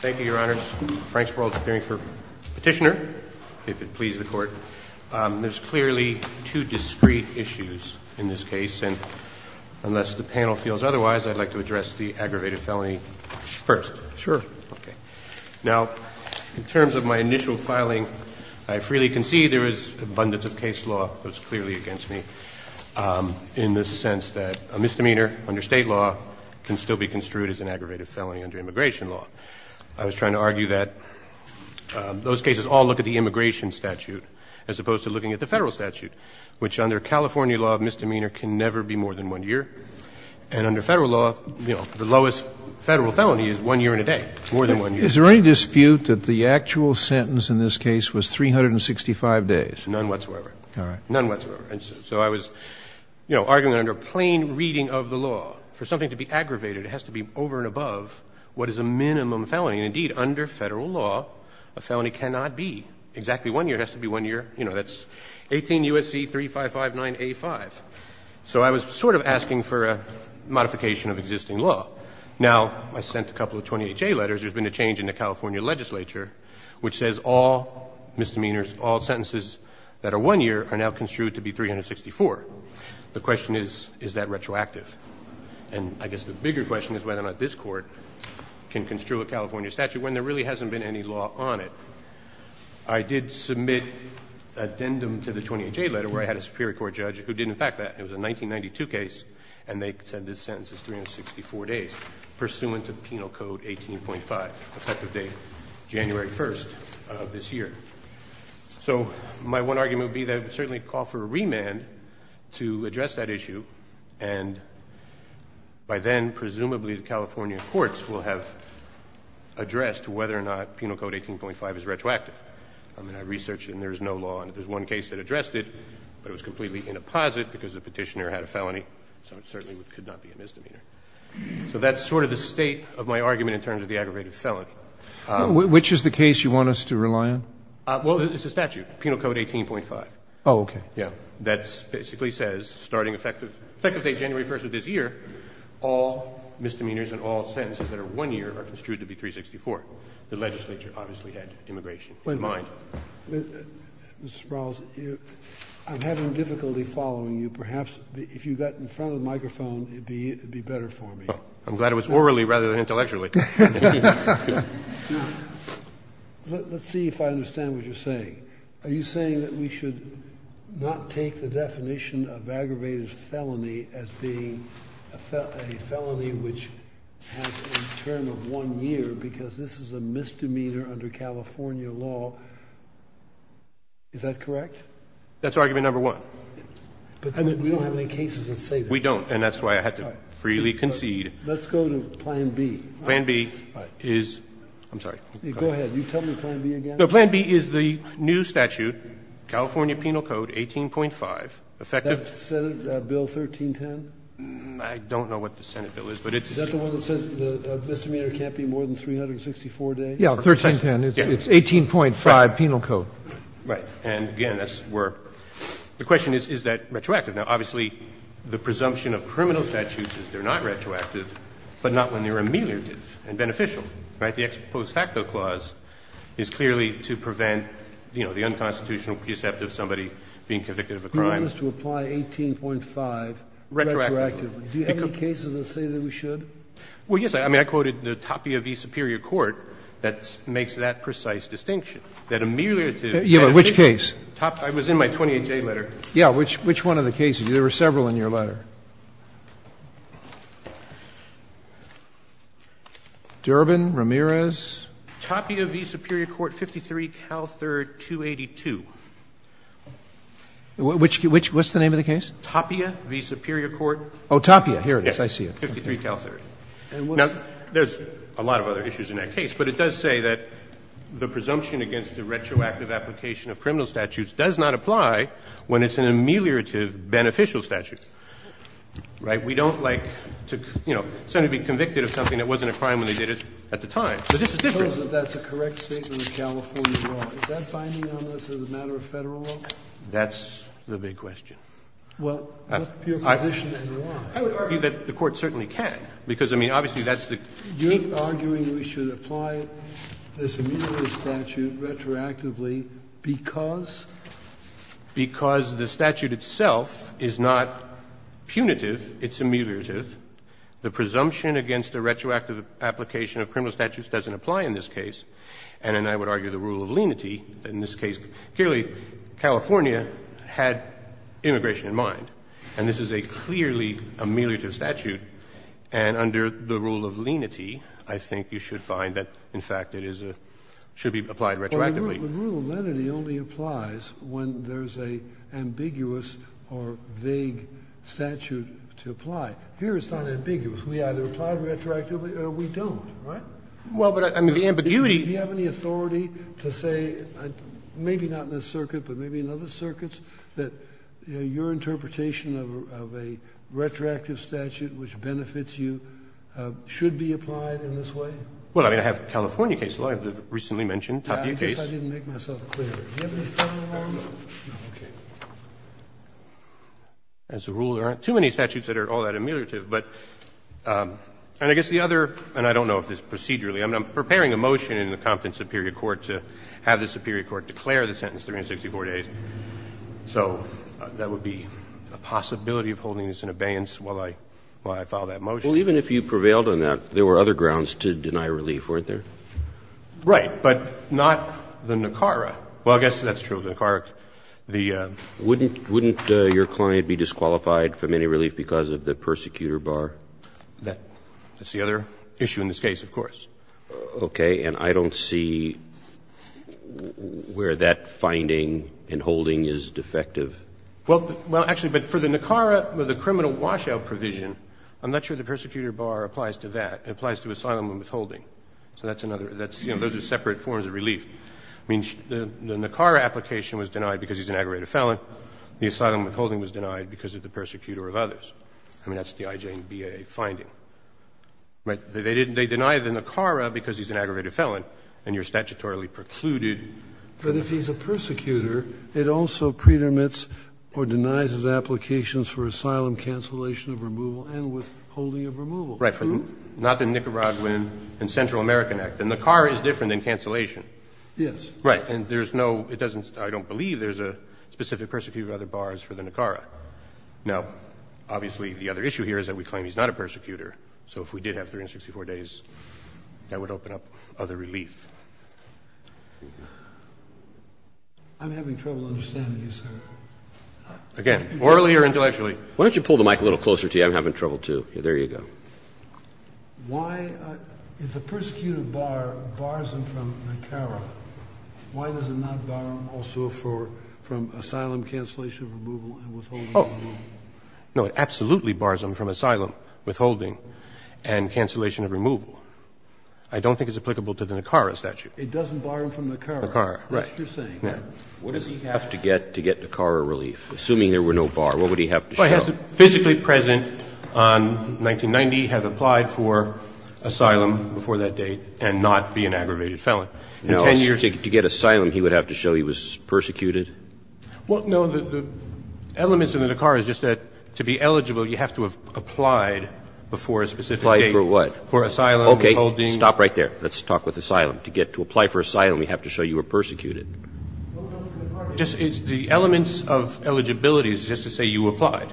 Thank you, your honors. Frank Sparrow, appearing for petitioner, if it pleases the court. There's clearly two discrete issues in this case, and unless the panel feels otherwise, I'd like to address the aggravated felony first. Sure. Now, in terms of my initial filing, I freely concede there is abundance of case law that's clearly against me, in the sense that a misdemeanor under state law can still be construed as an aggravated felony under immigration law. I was trying to argue that those cases all look at the immigration statute as opposed to looking at the federal statute, which under California law of misdemeanor can never be more than one year. And under federal law, the lowest federal felony is one year and a day, more than one year. Is there any dispute that the actual sentence in this case was 365 days? None whatsoever. All right. None whatsoever. And so I was, you know, arguing that under plain reading of the law, for something to be aggravated, it has to be over and above what is a minimum felony. And indeed, under federal law, a felony cannot be exactly one year. It has to be one year, you know, that's 18 U.S.C. 3559A5. So I was sort of asking for a modification of existing law. Now, I sent a couple of 28-J letters. There's been a change in the California legislature which says all misdemeanors, all sentences that are one year are now construed to be 364. The question is, is that retroactive? And I guess the bigger question is whether or not this Court can construe a California statute when there really hasn't been any law on it. I did submit addendum to the 28-J letter where I had a Superior Court judge who did, in fact, that. It was a 1992 case, and they said this sentence is 364 days pursuant to Penal Code 18.5, effective date January 1st of this year. So my one argument would be that it would certainly call for a remand to address that issue, and by then, presumably, the California courts will have addressed whether or not Penal Code 18.5 is retroactive. I mean, I researched it, and there's no law on it. There's one case that addressed it, but it was completely in a posit because the petitioner had a felony, so it certainly could not be a misdemeanor. So that's sort of the state of my argument in terms of the aggravated felony. Roberts. Which is the case you want us to rely on? Well, it's a statute, Penal Code 18.5. Oh, okay. Yeah. That basically says, starting effective date January 1st of this year, all misdemeanors and all sentences that are one year are construed to be 364. The legislature obviously had immigration in mind. Mr. Sprouls, I'm having difficulty following you. Perhaps if you got in front of the microphone, it would be better for me. I'm glad it was orally rather than intellectually. Let's see if I understand what you're saying. Are you saying that we should not take the definition of aggravated felony as being a felony which has a term of one year because this is a misdemeanor under California law? Is that correct? That's argument number one. But we don't have any cases that say that. We don't, and that's why I had to freely concede. Let's go to Plan B. Plan B is the new statute, California Penal Code 18.5. That's Senate Bill 1310? I don't know what the Senate bill is. Is that the one that says the misdemeanor can't be more than 364 days? Yeah, 1310. It's 18.5 Penal Code. Right. And, again, that's where the question is, is that retroactive? Now, obviously, the presumption of criminal statutes is they're not retroactive, but not when they're ameliorative and beneficial, right? The ex post facto clause is clearly to prevent, you know, the unconstitutional precept of somebody being convicted of a crime. Do you want us to apply 18.5 retroactively? Retroactively. Do you have any cases that say that we should? Well, yes. I mean, I quoted the Tapia v. Superior Court that makes that precise distinction, that ameliorative. Yeah, but which case? I was in my 28-J letter. Yeah. Which one of the cases? There were several in your letter. Durbin, Ramirez. Tapia v. Superior Court, 53 Cal 3rd, 282. Which? What's the name of the case? Tapia v. Superior Court. Oh, Tapia. Here it is. I see it. 53 Cal 3rd. Now, there's a lot of other issues in that case, but it does say that the presumption against the retroactive application of criminal statutes does not apply when it's an ameliorative beneficial statute. Right? We don't like to, you know, somebody being convicted of something that wasn't a crime when they did it at the time. So this is different. So that's a correct statement of California law. Is that binding on this as a matter of Federal law? That's the big question. Well, what's your position in law? I would argue that the Court certainly can, because, I mean, obviously, that's the case. Are we arguing we should apply this ameliorative statute retroactively because? Because the statute itself is not punitive, it's ameliorative. The presumption against the retroactive application of criminal statutes doesn't apply in this case. And then I would argue the rule of lenity in this case. Clearly, California had immigration in mind. And this is a clearly ameliorative statute. And under the rule of lenity, I think you should find that, in fact, it is a, should be applied retroactively. Well, the rule of lenity only applies when there's an ambiguous or vague statute to apply. Here it's not ambiguous. We either apply it retroactively or we don't. Right? Well, but I mean, the ambiguity. Do you have any authority to say, maybe not in this circuit, but maybe in other statutes, which benefits you, should be applied in this way? Well, I mean, I have California cases. I have the recently mentioned Toppy case. I guess I didn't make myself clear. Do you have any further arguments? No. Okay. As a rule, there aren't too many statutes that are all that ameliorative. But, and I guess the other, and I don't know if this is procedurally. I mean, I'm preparing a motion in the Compton Superior Court to have the Superior Court declare the sentence 364 days. So that would be a possibility of holding this in abeyance while I file that motion. Well, even if you prevailed on that, there were other grounds to deny relief, weren't there? Right. But not the NACARA. Well, I guess that's true. The NACARA, the. Wouldn't your client be disqualified from any relief because of the persecutor bar? That's the other issue in this case, of course. Okay. And I don't see where that finding and holding is defective. Well, actually, but for the NACARA, the criminal washout provision, I'm not sure the persecutor bar applies to that. It applies to asylum and withholding. So that's another, that's, you know, those are separate forms of relief. I mean, the NACARA application was denied because he's an aggravated felon. The asylum withholding was denied because of the persecutor of others. I mean, that's the IJNBA finding. Right. They deny the NACARA because he's an aggravated felon, and you're statutorily precluded from that. But if he's a persecutor, it also predominates or denies his applications for asylum cancellation of removal and withholding of removal. Right. Not the Nicaraguan and Central American Act. And NACARA is different than cancellation. Yes. Right. And there's no, it doesn't, I don't believe there's a specific persecutor bar for the NACARA. No. Obviously, the other issue here is that we claim he's not a persecutor. So if we did have 364 days, that would open up other relief. I'm having trouble understanding you, sir. Again, orally or intellectually? Why don't you pull the mic a little closer to you? I'm having trouble, too. There you go. Why, if the persecuted bar bars him from NACARA, why does it not bar him also from asylum cancellation of removal and withholding of removal? Oh, no. It absolutely bars him from asylum withholding and cancellation of removal. I don't think it's applicable to the NACARA statute. It doesn't bar him from NACARA. NACARA, right. That's what you're saying. What does he have to get to get NACARA relief? Assuming there were no bar, what would he have to show? Well, he has to physically present on 1990, have applied for asylum before that date, and not be an aggravated felon. In 10 years to get asylum, he would have to show he was persecuted. Well, no, the elements of the NACARA is just that to be eligible, you have to have applied before a specific date. Applied for what? For asylum withholding. Okay. Stop right there. Let's talk with asylum. To get to apply for asylum, you have to show you were persecuted. The elements of eligibility is just to say you applied.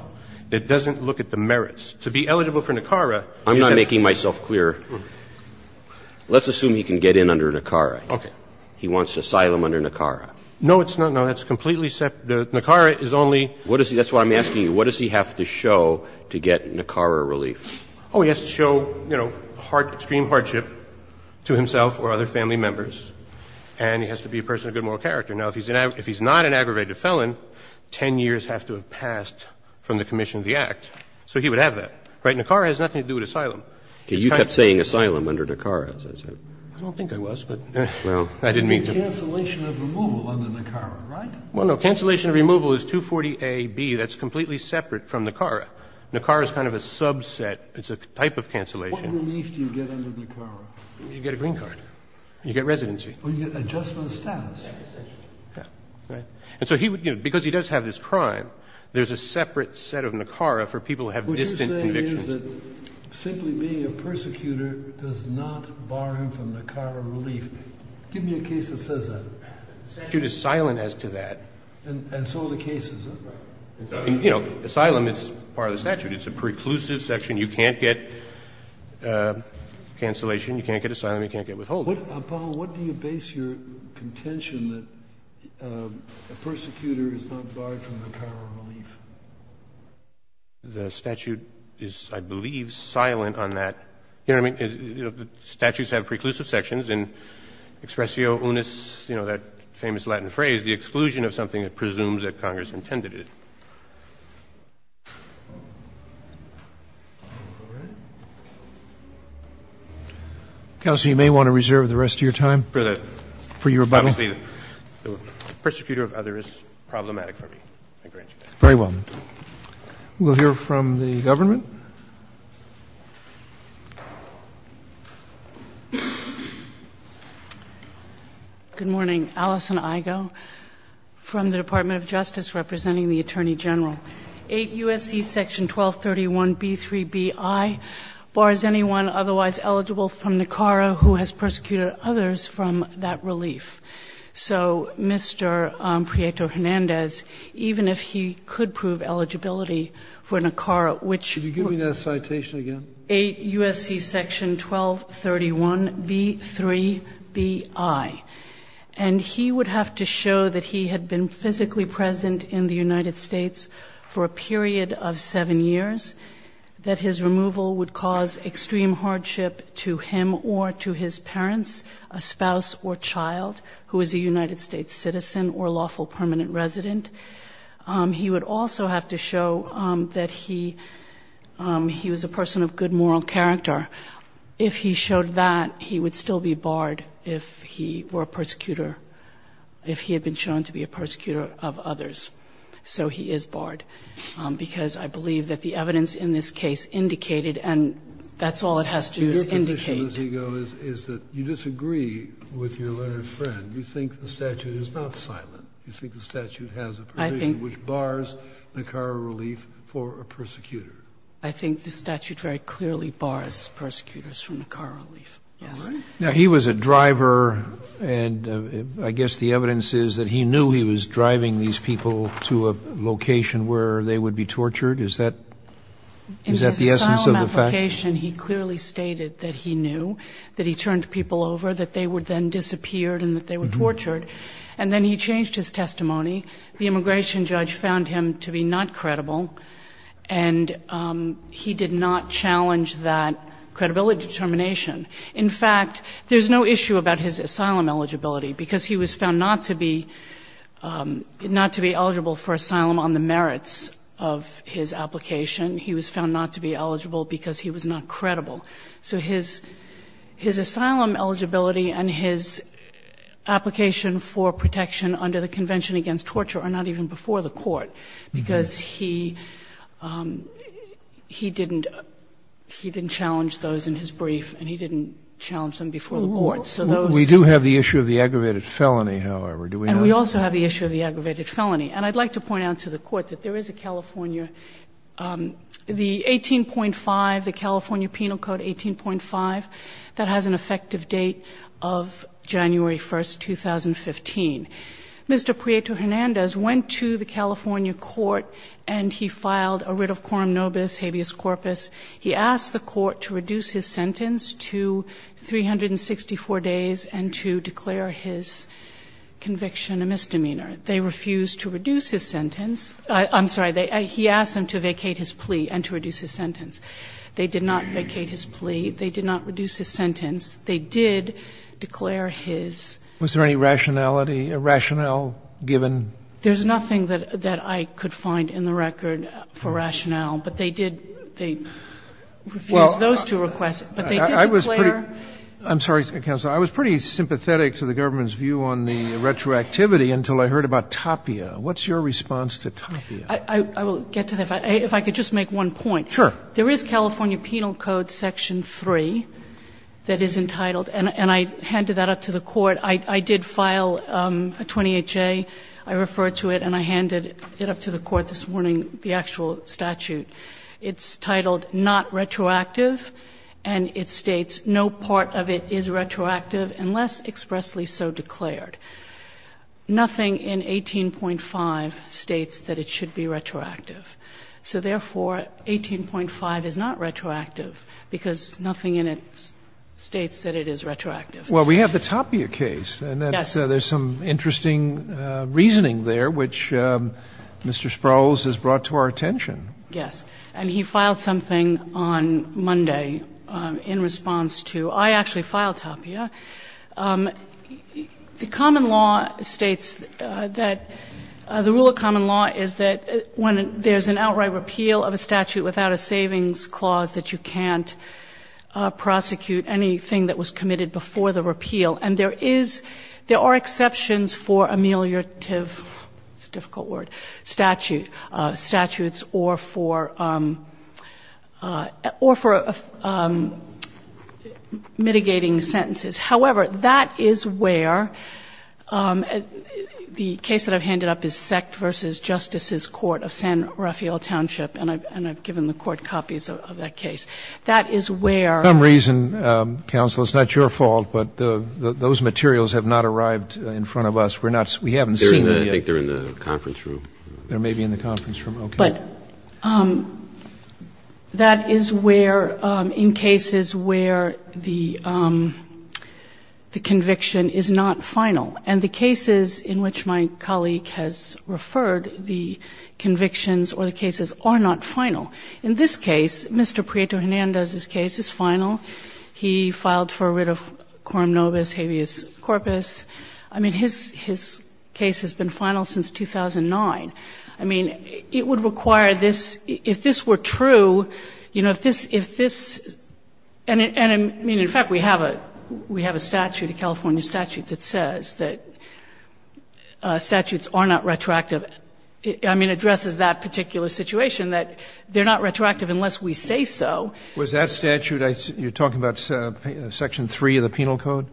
It doesn't look at the merits. To be eligible for NACARA. I'm not making myself clear. Let's assume he can get in under NACARA. Okay. He wants asylum under NACARA. No, it's not. No, that's completely separate. NACARA is only. That's why I'm asking you. What does he have to show to get NACARA relief? Oh, he has to show, you know, extreme hardship to himself or other family members, and he has to be a person of good moral character. Now, if he's not an aggravated felon, 10 years have to have passed from the commission of the Act, so he would have that. Right? NACARA has nothing to do with asylum. Okay. You kept saying asylum under NACARA. I don't think I was, but I didn't mean to. You mean cancellation of removal under NACARA, right? Well, no. Cancellation of removal is 240a)(b). That's completely separate from NACARA. NACARA is kind of a subset. It's a type of cancellation. What relief do you get under NACARA? You get a green card. You get residency. Oh, you get adjustment of status. Yeah. Right. And so he would, you know, because he does have this crime, there's a separate set of NACARA for people who have distant convictions. What you're saying is that simply being a persecutor does not bar him from NACARA relief. Give me a case that says that. The statute is silent as to that. And so are the cases. Right. You know, asylum is part of the statute. It's a preclusive section. You can't get cancellation. You can't get asylum. You can't get withholding. Paul, what do you base your contention that a persecutor is not barred from NACARA relief? The statute is, I believe, silent on that. You know what I mean? Statutes have preclusive sections. In expressio unis, you know, that famous Latin phrase, the exclusion of something that presumes that Congress intended it. Counsel, you may want to reserve the rest of your time for your rebuttal. Obviously, the persecutor of others is problematic for me. I grant you that. Very well. We'll hear from the government. Thank you. Good morning. Alison Igo from the Department of Justice representing the Attorney General. 8 U.S.C. Section 1231B3BI bars anyone otherwise eligible from NACARA who has persecuted others from that relief. So Mr. Prieto-Hernandez, even if he could prove eligibility for NACARA, which Could you give me that citation again? 8 U.S.C. Section 1231B3BI. And he would have to show that he had been physically present in the United States for a period of 7 years, that his removal would cause extreme hardship to him or to his parents, a spouse or child who is a United States citizen or lawful permanent resident. He would also have to show that he was a person of good moral character. If he showed that, he would still be barred if he were a persecutor, if he had been shown to be a persecutor of others. So he is barred, because I believe that the evidence in this case indicated and that's all it has to indicate. Kennedy, I think the issue is he goes is that you disagree with your learned friend. You think the statute is not silent. You think the statute has a provision which bars NACARA relief for a persecutor. I think the statute very clearly bars persecutors from NACARA relief. Now he was a driver and I guess the evidence is that he knew he was driving these people to a location where they would be tortured, is that the essence of the fact? In his application, he clearly stated that he knew, that he turned people over, that they would then disappear and that they were tortured. And then he changed his testimony. The immigration judge found him to be not credible and he did not challenge that credibility determination. In fact, there's no issue about his asylum eligibility because he was found not to be eligible for asylum on the merits of his application. He was found not to be eligible because he was not credible. So his asylum eligibility and his application for protection under the Convention Against Torture are not even before the court because he didn't challenge those in his brief and he didn't challenge them before the court. So those are the issues. We do have the issue of the aggravated felony, however, do we not? And we also have the issue of the aggravated felony. And I'd like to point out to the court that there is a California, the 18.5, the California Penal Code 18.5, that has an effective date of January 1, 2015. Mr. Prieto-Hernandez went to the California court and he filed a writ of quorum nobis habeas corpus. He asked the court to reduce his sentence to 364 days and to declare his conviction a misdemeanor. They refused to reduce his sentence. I'm sorry. He asked them to vacate his plea and to reduce his sentence. They did not vacate his plea. They did not reduce his sentence. They did declare his. Roberts. Was there any rationality, rationale given? There's nothing that I could find in the record for rationale, but they did, they refused those two requests. But they did declare. I'm sorry, Counsel. I was pretty sympathetic to the government's view on the retroactivity until I heard about TAPIA. What's your response to TAPIA? I will get to that. If I could just make one point. Sure. There is California Penal Code section 3 that is entitled, and I handed that up to the court. I did file a 28J. I referred to it and I handed it up to the court this morning, the actual statute. It's titled not retroactive and it states no part of it is retroactive unless expressly so declared. Nothing in 18.5 states that it should be retroactive. So therefore, 18.5 is not retroactive because nothing in it states that it is retroactive. Well, we have the TAPIA case. Yes. And there's some interesting reasoning there which Mr. Sproul's has brought to our attention. Yes. And he filed something on Monday in response to. I actually filed TAPIA. The common law states that the rule of common law is that when there's an outright repeal of a statute without a savings clause that you can't prosecute anything that was committed before the repeal. And there is, there are exceptions for ameliorative, it's a difficult word, statute, ameliorative statutes or for mitigating sentences. However, that is where the case that I've handed up is Sect v. Justices Court of San Rafael Township and I've given the court copies of that case. That is where. For some reason, counsel, it's not your fault, but those materials have not arrived in front of us. We're not, we haven't seen them yet. I think they're in the conference room. They may be in the conference room. Okay. But that is where, in cases where the conviction is not final. And the cases in which my colleague has referred, the convictions or the cases are not final. In this case, Mr. Prieto Hernandez's case is final. He filed for a writ of quorum nobis habeas corpus. I mean, his case has been final since 2009. I mean, it would require this, if this were true, you know, if this, if this, and in fact, we have a statute, a California statute that says that statutes are not retroactive. I mean, it addresses that particular situation, that they're not retroactive unless we say so. Was that statute, you're talking about Section 3 of the Penal Code?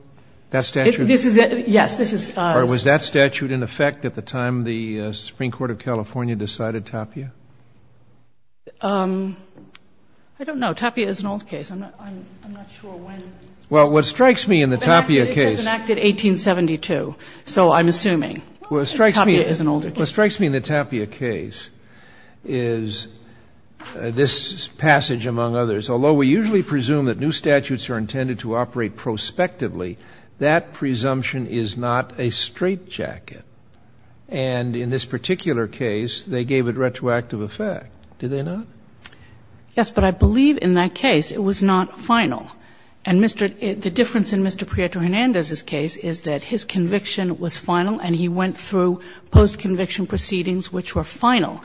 That statute? This is, yes, this is. All right. Was that statute in effect at the time the Supreme Court of California decided Tapia? I don't know. Tapia is an old case. I'm not sure when. Well, what strikes me in the Tapia case. It was enacted 1872, so I'm assuming. Well, it strikes me. Tapia is an older case. What strikes me in the Tapia case is this passage, among others. Although we usually presume that new statutes are intended to operate prospectively, that presumption is not a straitjacket. And in this particular case, they gave it retroactive effect, did they not? Yes, but I believe in that case it was not final. And the difference in Mr. Prieto-Hernandez's case is that his conviction was final and he went through post-conviction proceedings which were final.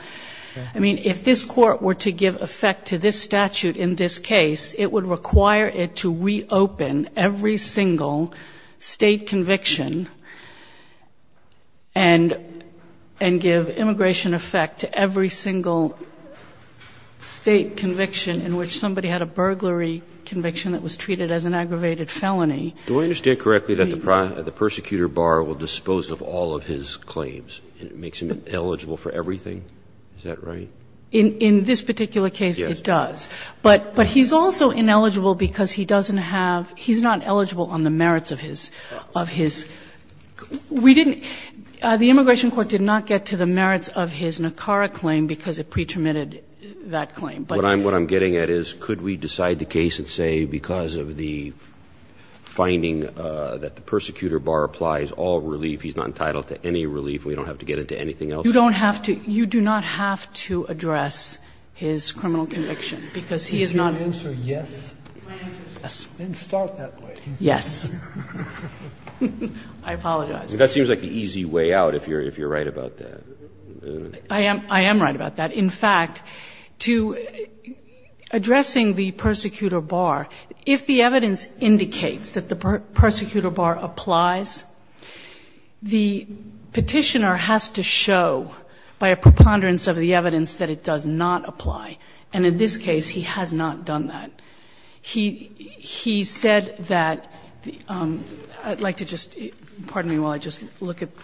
I mean, if this Court were to give effect to this statute in this case, it would require it to reopen every single State conviction and give immigration effect to every single State conviction in which somebody had a burglary conviction that was treated as an aggravated felony. Do I understand correctly that the prosecutor bar will dispose of all of his claims and it makes him eligible for everything? Is that right? In this particular case, it does. Yes. But he's also ineligible because he doesn't have – he's not eligible on the merits of his – of his – we didn't – the Immigration Court did not get to the merits of his NACARA claim because it pre-terminated that claim. What I'm getting at is could we decide the case and say because of the finding that the prosecutor bar applies all relief, he's not entitled to any relief, we don't have to get into anything else? You don't have to – you do not have to address his criminal conviction because he is not. Is your answer yes? Yes. Then start that way. Yes. I apologize. That seems like the easy way out if you're right about that. I am right about that. In fact, to addressing the prosecutor bar, if the evidence indicates that the prosecutor bar applies, the Petitioner has to show by a preponderance of the evidence that it does not apply, and in this case he has not done that. He said that – I'd like to just – pardon me while I just look at –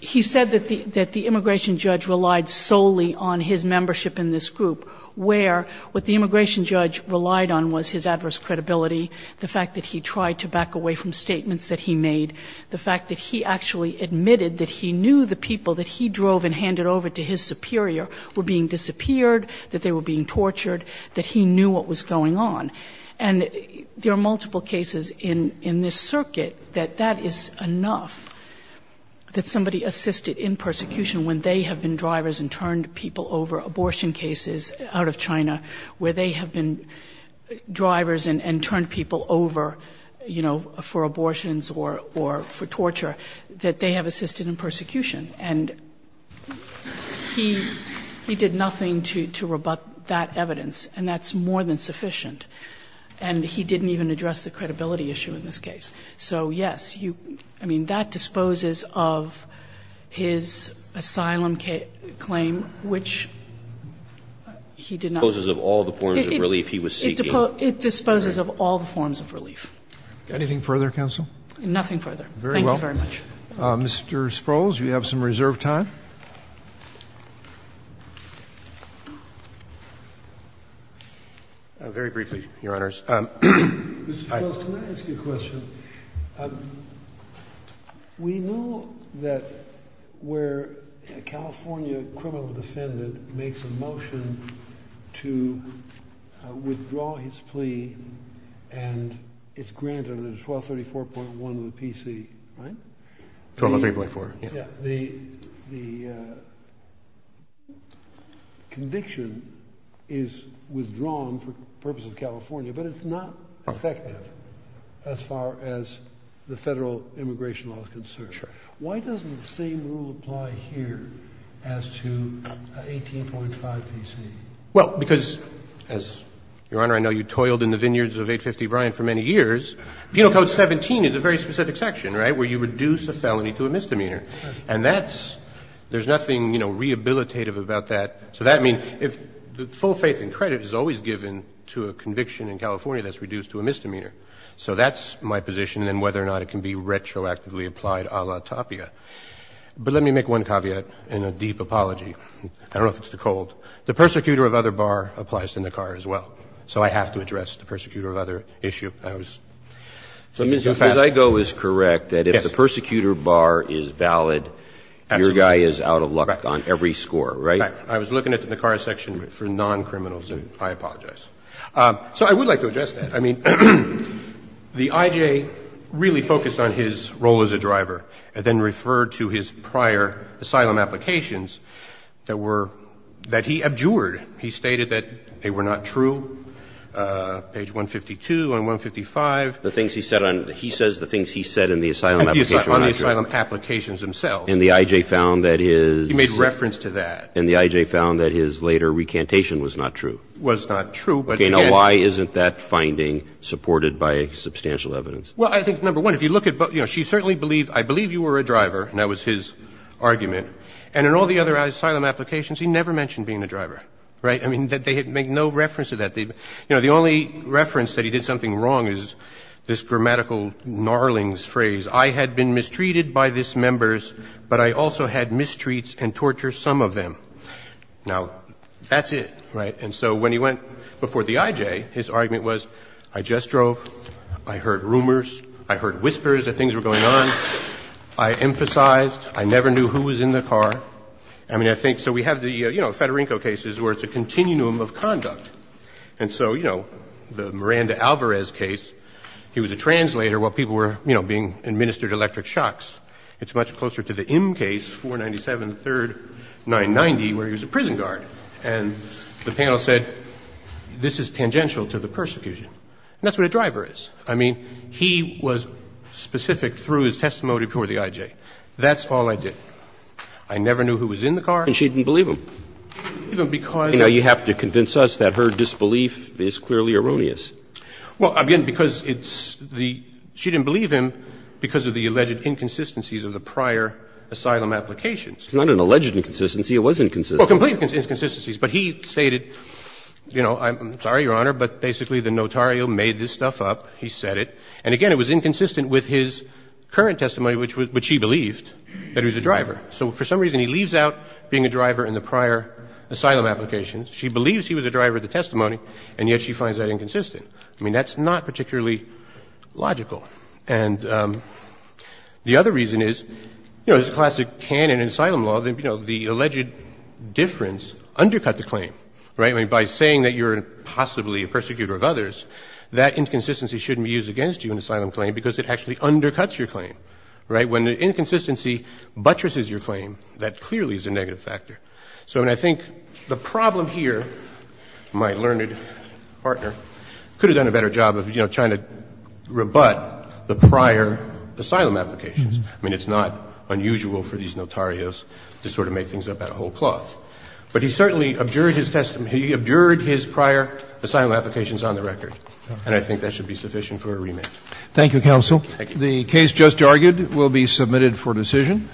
he said that the immigration judge relied solely on his membership in this group, where what the immigration judge relied on was his adverse credibility, the fact that he tried to back away from statements that he made, the fact that he actually admitted that he knew the people that he drove and handed over to his superior were being disappeared, that they were being tortured, that he knew what was going on. And there are multiple cases in this circuit that that is enough that somebody assisted in persecution when they have been drivers and turned people over, abortion cases out of China, where they have been drivers and turned people over, you know, for abortions or for torture, that they have assisted in persecution. And he did nothing to rebut that evidence, and that's more than sufficient. And he didn't even address the credibility issue in this case. So, yes, you – I mean, that disposes of his asylum claim, which he did not. It disposes of all the forms of relief he was seeking. It disposes of all the forms of relief. Anything further, counsel? Nothing further. Thank you very much. Very well. Mr. Sprouls, you have some reserved time. Very briefly, Your Honors. Mr. Sprouls, can I ask you a question? We know that where a California criminal defendant makes a motion to withdraw his plea and it's granted under 1234.1 of the PC, right? 1234.4. The conviction is withdrawn for purposes of California, but it's not effective as far as the Federal immigration law is concerned. Sure. Why doesn't the same rule apply here as to 18.5 PC? Well, because, Your Honor, I know you toiled in the vineyards of 850 Bryant for many years. Penal Code 17 is a very specific section, right, where you reduce a felony to a misdemeanor. And that's – there's nothing, you know, rehabilitative about that. So that means if the full faith and credit is always given to a conviction in California, that's reduced to a misdemeanor. So that's my position, and whether or not it can be retroactively applied a la Tapia. But let me make one caveat and a deep apology. I don't know if it's too cold. The persecutor of other bar applies in the car as well. So I have to address the persecutor of other issue. I was – So, Mr. Fusago is correct that if the persecutor bar is valid, your guy is out of luck on every score, right? I was looking at the car section for non-criminals, and I apologize. So I would like to address that. I mean, the IJ really focused on his role as a driver and then referred to his prior asylum applications that were – that he abjured. He stated that they were not true. Page 152 on 155. The things he said on – he says the things he said in the asylum application were not true. On the asylum applications themselves. And the IJ found that his – He made reference to that. And the IJ found that his later recantation was not true. Was not true, but again – Okay. Now, why isn't that finding supported by substantial evidence? Well, I think, number one, if you look at – you know, she certainly believed – I believe you were a driver, and that was his argument. And in all the other asylum applications, he never mentioned being a driver, right? I mean, they make no reference to that. You know, the only reference that he did something wrong is this grammatical gnarling phrase. I had been mistreated by this members, but I also had mistreats and tortures some of them. Now, that's it, right? And so when he went before the IJ, his argument was, I just drove, I heard rumors, I heard whispers that things were going on, I emphasized, I never knew who was in the car. I mean, I think – so we have the, you know, Federico cases where it's a continuum of conduct. And so, you know, the Miranda-Alvarez case, he was a translator while people were, you know, being administered electric shocks. It's much closer to the M case, 497, 3rd, 990, where he was a prison guard. And the panel said, this is tangential to the persecution. And that's what a driver is. I mean, he was specific through his testimony before the IJ. That's all I did. I never knew who was in the car. And she didn't believe him. Even because – You know, you have to convince us that her disbelief is clearly erroneous. Well, again, because it's the – she didn't believe him because of the alleged inconsistencies of the prior asylum applications. It's not an alleged inconsistency. It was inconsistent. Well, complete inconsistencies. But he stated, you know, I'm sorry, Your Honor, but basically the notario made this stuff up. He said it. And, again, it was inconsistent with his current testimony, which he believed that he was a driver. So for some reason he leaves out being a driver in the prior asylum applications. She believes he was a driver of the testimony, and yet she finds that inconsistent. I mean, that's not particularly logical. And the other reason is, you know, there's a classic canon in asylum law that, you know, the alleged difference undercut the claim, right? I mean, by saying that you're possibly a persecutor of others, that inconsistency shouldn't be used against you in asylum claim because it actually undercuts your claim, right? When the inconsistency buttresses your claim, that clearly is a negative factor. So I mean, I think the problem here, my learned partner could have done a better job of, you know, trying to rebut the prior asylum applications. I mean, it's not unusual for these notarios to sort of make things up out of whole cloth. But he certainly abjured his testimony. He abjured his prior asylum applications on the record, and I think that should be sufficient for a remand. Thank you, counsel. The case just argued will be submitted for decision.